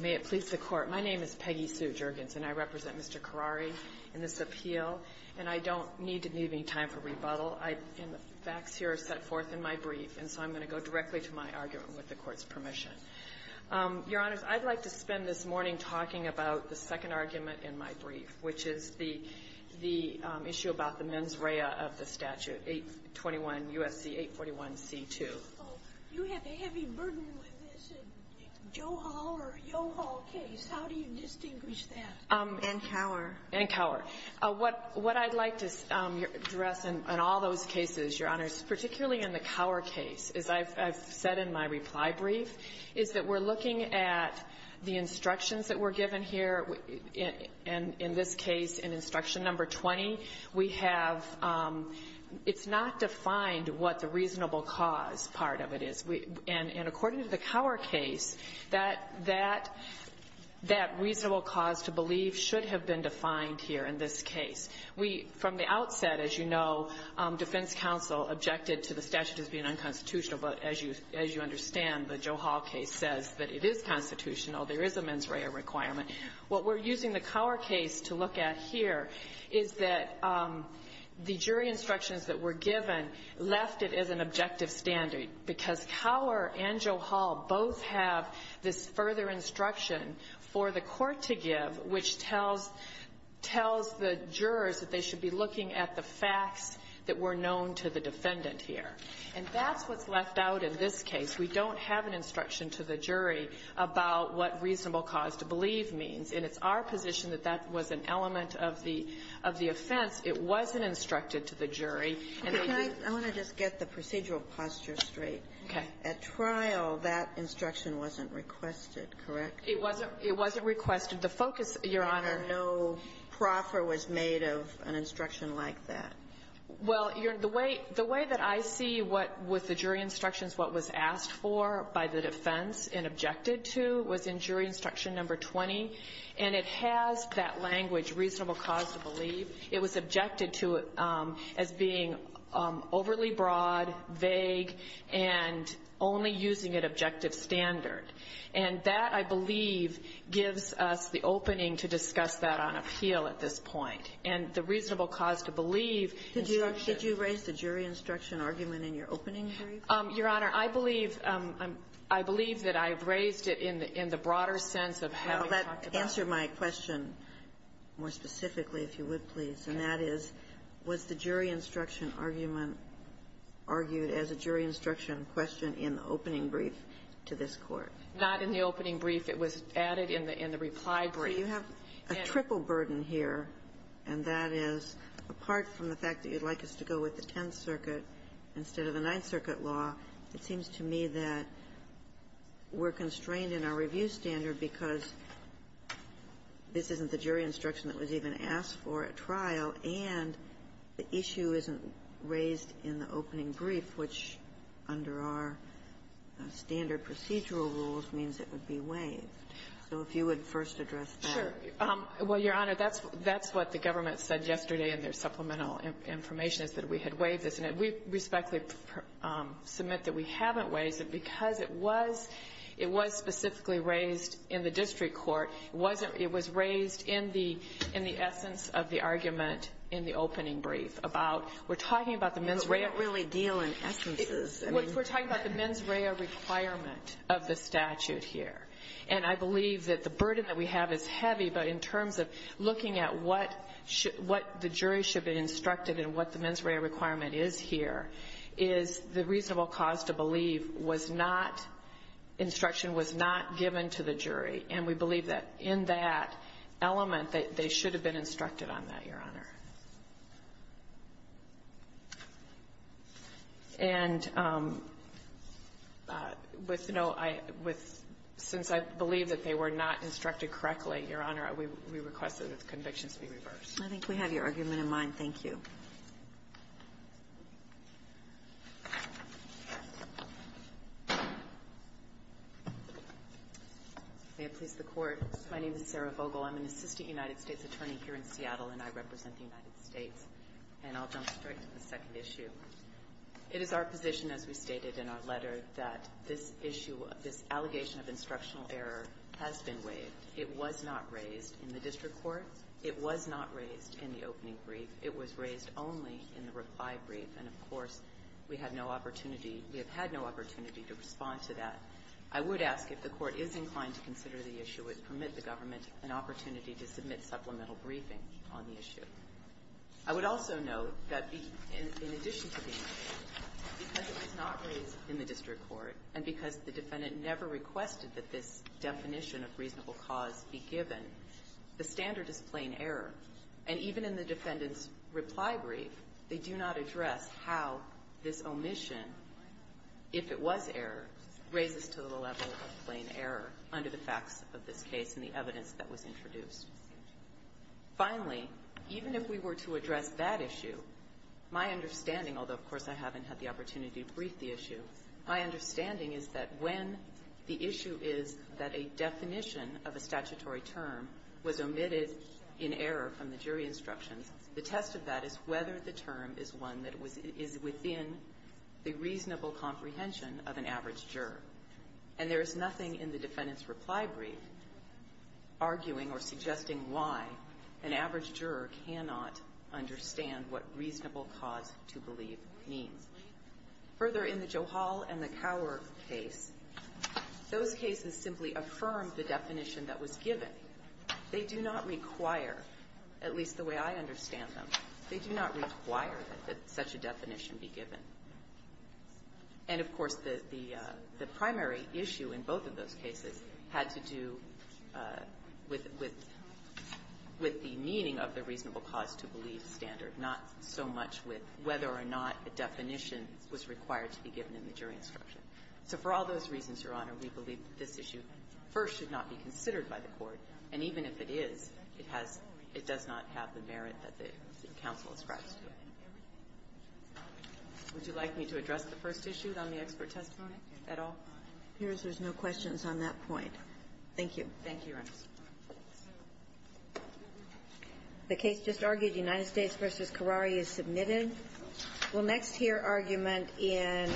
May it please the Court, my name is Peggy Sue Juergens, and I represent Mr. Karawi in this appeal, and I don't need to leave any time for rebuttal. I, and the facts here are set forth in my brief, and so I'm going to go directly to my argument with the Court's permission. Your Honors, I'd like to spend this morning talking about the second argument in my brief, which is the issue about the mens rea of the statute, 821 U.S.C. 841 C.2. Oh, you have a heavy burden with this. The Joe Hall or Yo Hall case, how do you distinguish that? And Cower. And Cower. What I'd like to address in all those cases, Your Honors, particularly in the Cower case, as I've said in my reply brief, is that we're looking at the instructions that were given here, and in this case, in instruction number 20, we have it's not defined what the reasonable cause part of it is. And according to the Cower case, that reasonable cause to believe should have been defined here in this case. We, from the outset, as you know, defense counsel objected to the statute as being unconstitutional, but as you understand, the Joe Hall case says that it is constitutional. There is a mens rea requirement. What we're using the Cower case to look at here is that the jury instructions that were given left it as an objective standard, because Cower and Joe Hall both have this further instruction for the court to give, which tells the jurors that they should be looking at the facts that were known to the defendant here. And that's what's left out in this case. We don't have an instruction to the jury about what reasonable cause to believe means. And it's our position that that was an element of the offense. It wasn't instructed to the jury. Kagan. I want to just get the procedural posture straight. Okay. At trial, that instruction wasn't requested, correct? It wasn't requested. The focus, Your Honor no proffer was made of an instruction like that. Well, the way that I see what was the jury instructions, what was asked for by the defense and objected to was in jury instruction number 20. And it has that language, reasonable cause to believe. It was objected to as being overly broad, vague, and only using an objective standard. And that, I believe, gives us the opening to discuss that on appeal at this point. And the reasonable cause to believe instruction. Did you raise the jury instruction argument in your opening brief? Your Honor, I believe that I've raised it in the broader sense of how we talked about it. Well, that answered my question more specifically, if you would, please. And that is, was the jury instruction argument argued as a jury instruction question in the opening brief to this Court? Not in the opening brief. It was added in the reply brief. So you have a triple burden here, and that is, apart from the fact that you'd like us to go with the Tenth Circuit instead of the Ninth Circuit law, it seems to me that we're constrained in our review standard because this isn't the jury instruction. And so, and the issue isn't raised in the opening brief, which, under our standard procedural rules, means it would be waived. So if you would first address that. Sure. Well, Your Honor, that's what the government said yesterday in their supplemental information, is that we had waived this. And we respectfully submit that we haven't waived it because it was specifically raised in the district court. It wasn't, it was raised in the essence of the argument in the opening brief about, we're talking about the mens rea. But we don't really deal in essences. We're talking about the mens rea requirement of the statute here. And I believe that the burden that we have is heavy, but in terms of looking at what the jury should be instructed and what the mens rea requirement is here is the reasonable cause to believe was not, instruction was not given to the jury. And we believe that in that element that they should have been instructed on that, Your Honor. And with no, with, since I believe that they were not instructed correctly, Your Honor, we request that the convictions be reversed. I think we have your argument in mind. Thank you. May it please the Court. My name is Sarah Vogel. I'm an assistant United States attorney here in Seattle, and I represent the United States. And I'll jump straight to the second issue. It is our position, as we stated in our letter, that this issue, this allegation of instructional error has been waived. It was not raised in the district court. It was not raised in the opening brief. It was raised only in the reply brief. And, of course, we have no opportunity, we have had no opportunity to respond to that. I would ask if the Court is inclined to consider the issue, would permit the government an opportunity to submit supplemental briefing on the issue. I would also note that in addition to the issue, because it was not raised in the district court and because the defendant never requested that this definition of reasonable cause be given, the standard is plain error. And even in the defendant's reply brief, they do not address how this omission, if it was error, raises to the level of plain error under the facts of this case and the evidence that was introduced. Finally, even if we were to address that issue, my understanding, although, of course, I haven't had the opportunity to brief the issue, my understanding is that when the issue is that a definition of a statutory term was omitted in error from the jury instructions, the test of that is whether the term is one that is within the reasonable comprehension of an average juror. And there is nothing in the defendant's reply brief arguing or suggesting why an average juror cannot understand what reasonable cause to believe means. Further, in the Joe Hall and the Cowork case, those cases simply affirmed the definition that was given. They do not require, at least the way I understand them, they do not require that such a definition be given. And, of course, the primary issue in both of those cases had to do with the meaning of the reasonable cause to believe standard, not so much with whether or not a definition was required to be given in the jury instruction. So for all those reasons, Your Honor, we believe that this issue first should not be considered by the Court. And even if it is, it has – it does not have the merit that the counsel ascribes to it. Would you like me to address the first issue on the expert testimony at all? It appears there's no questions on that point. Thank you. Thank you, Your Honor. The case just argued, United States v. Carrari, is submitted. We'll next hear argument in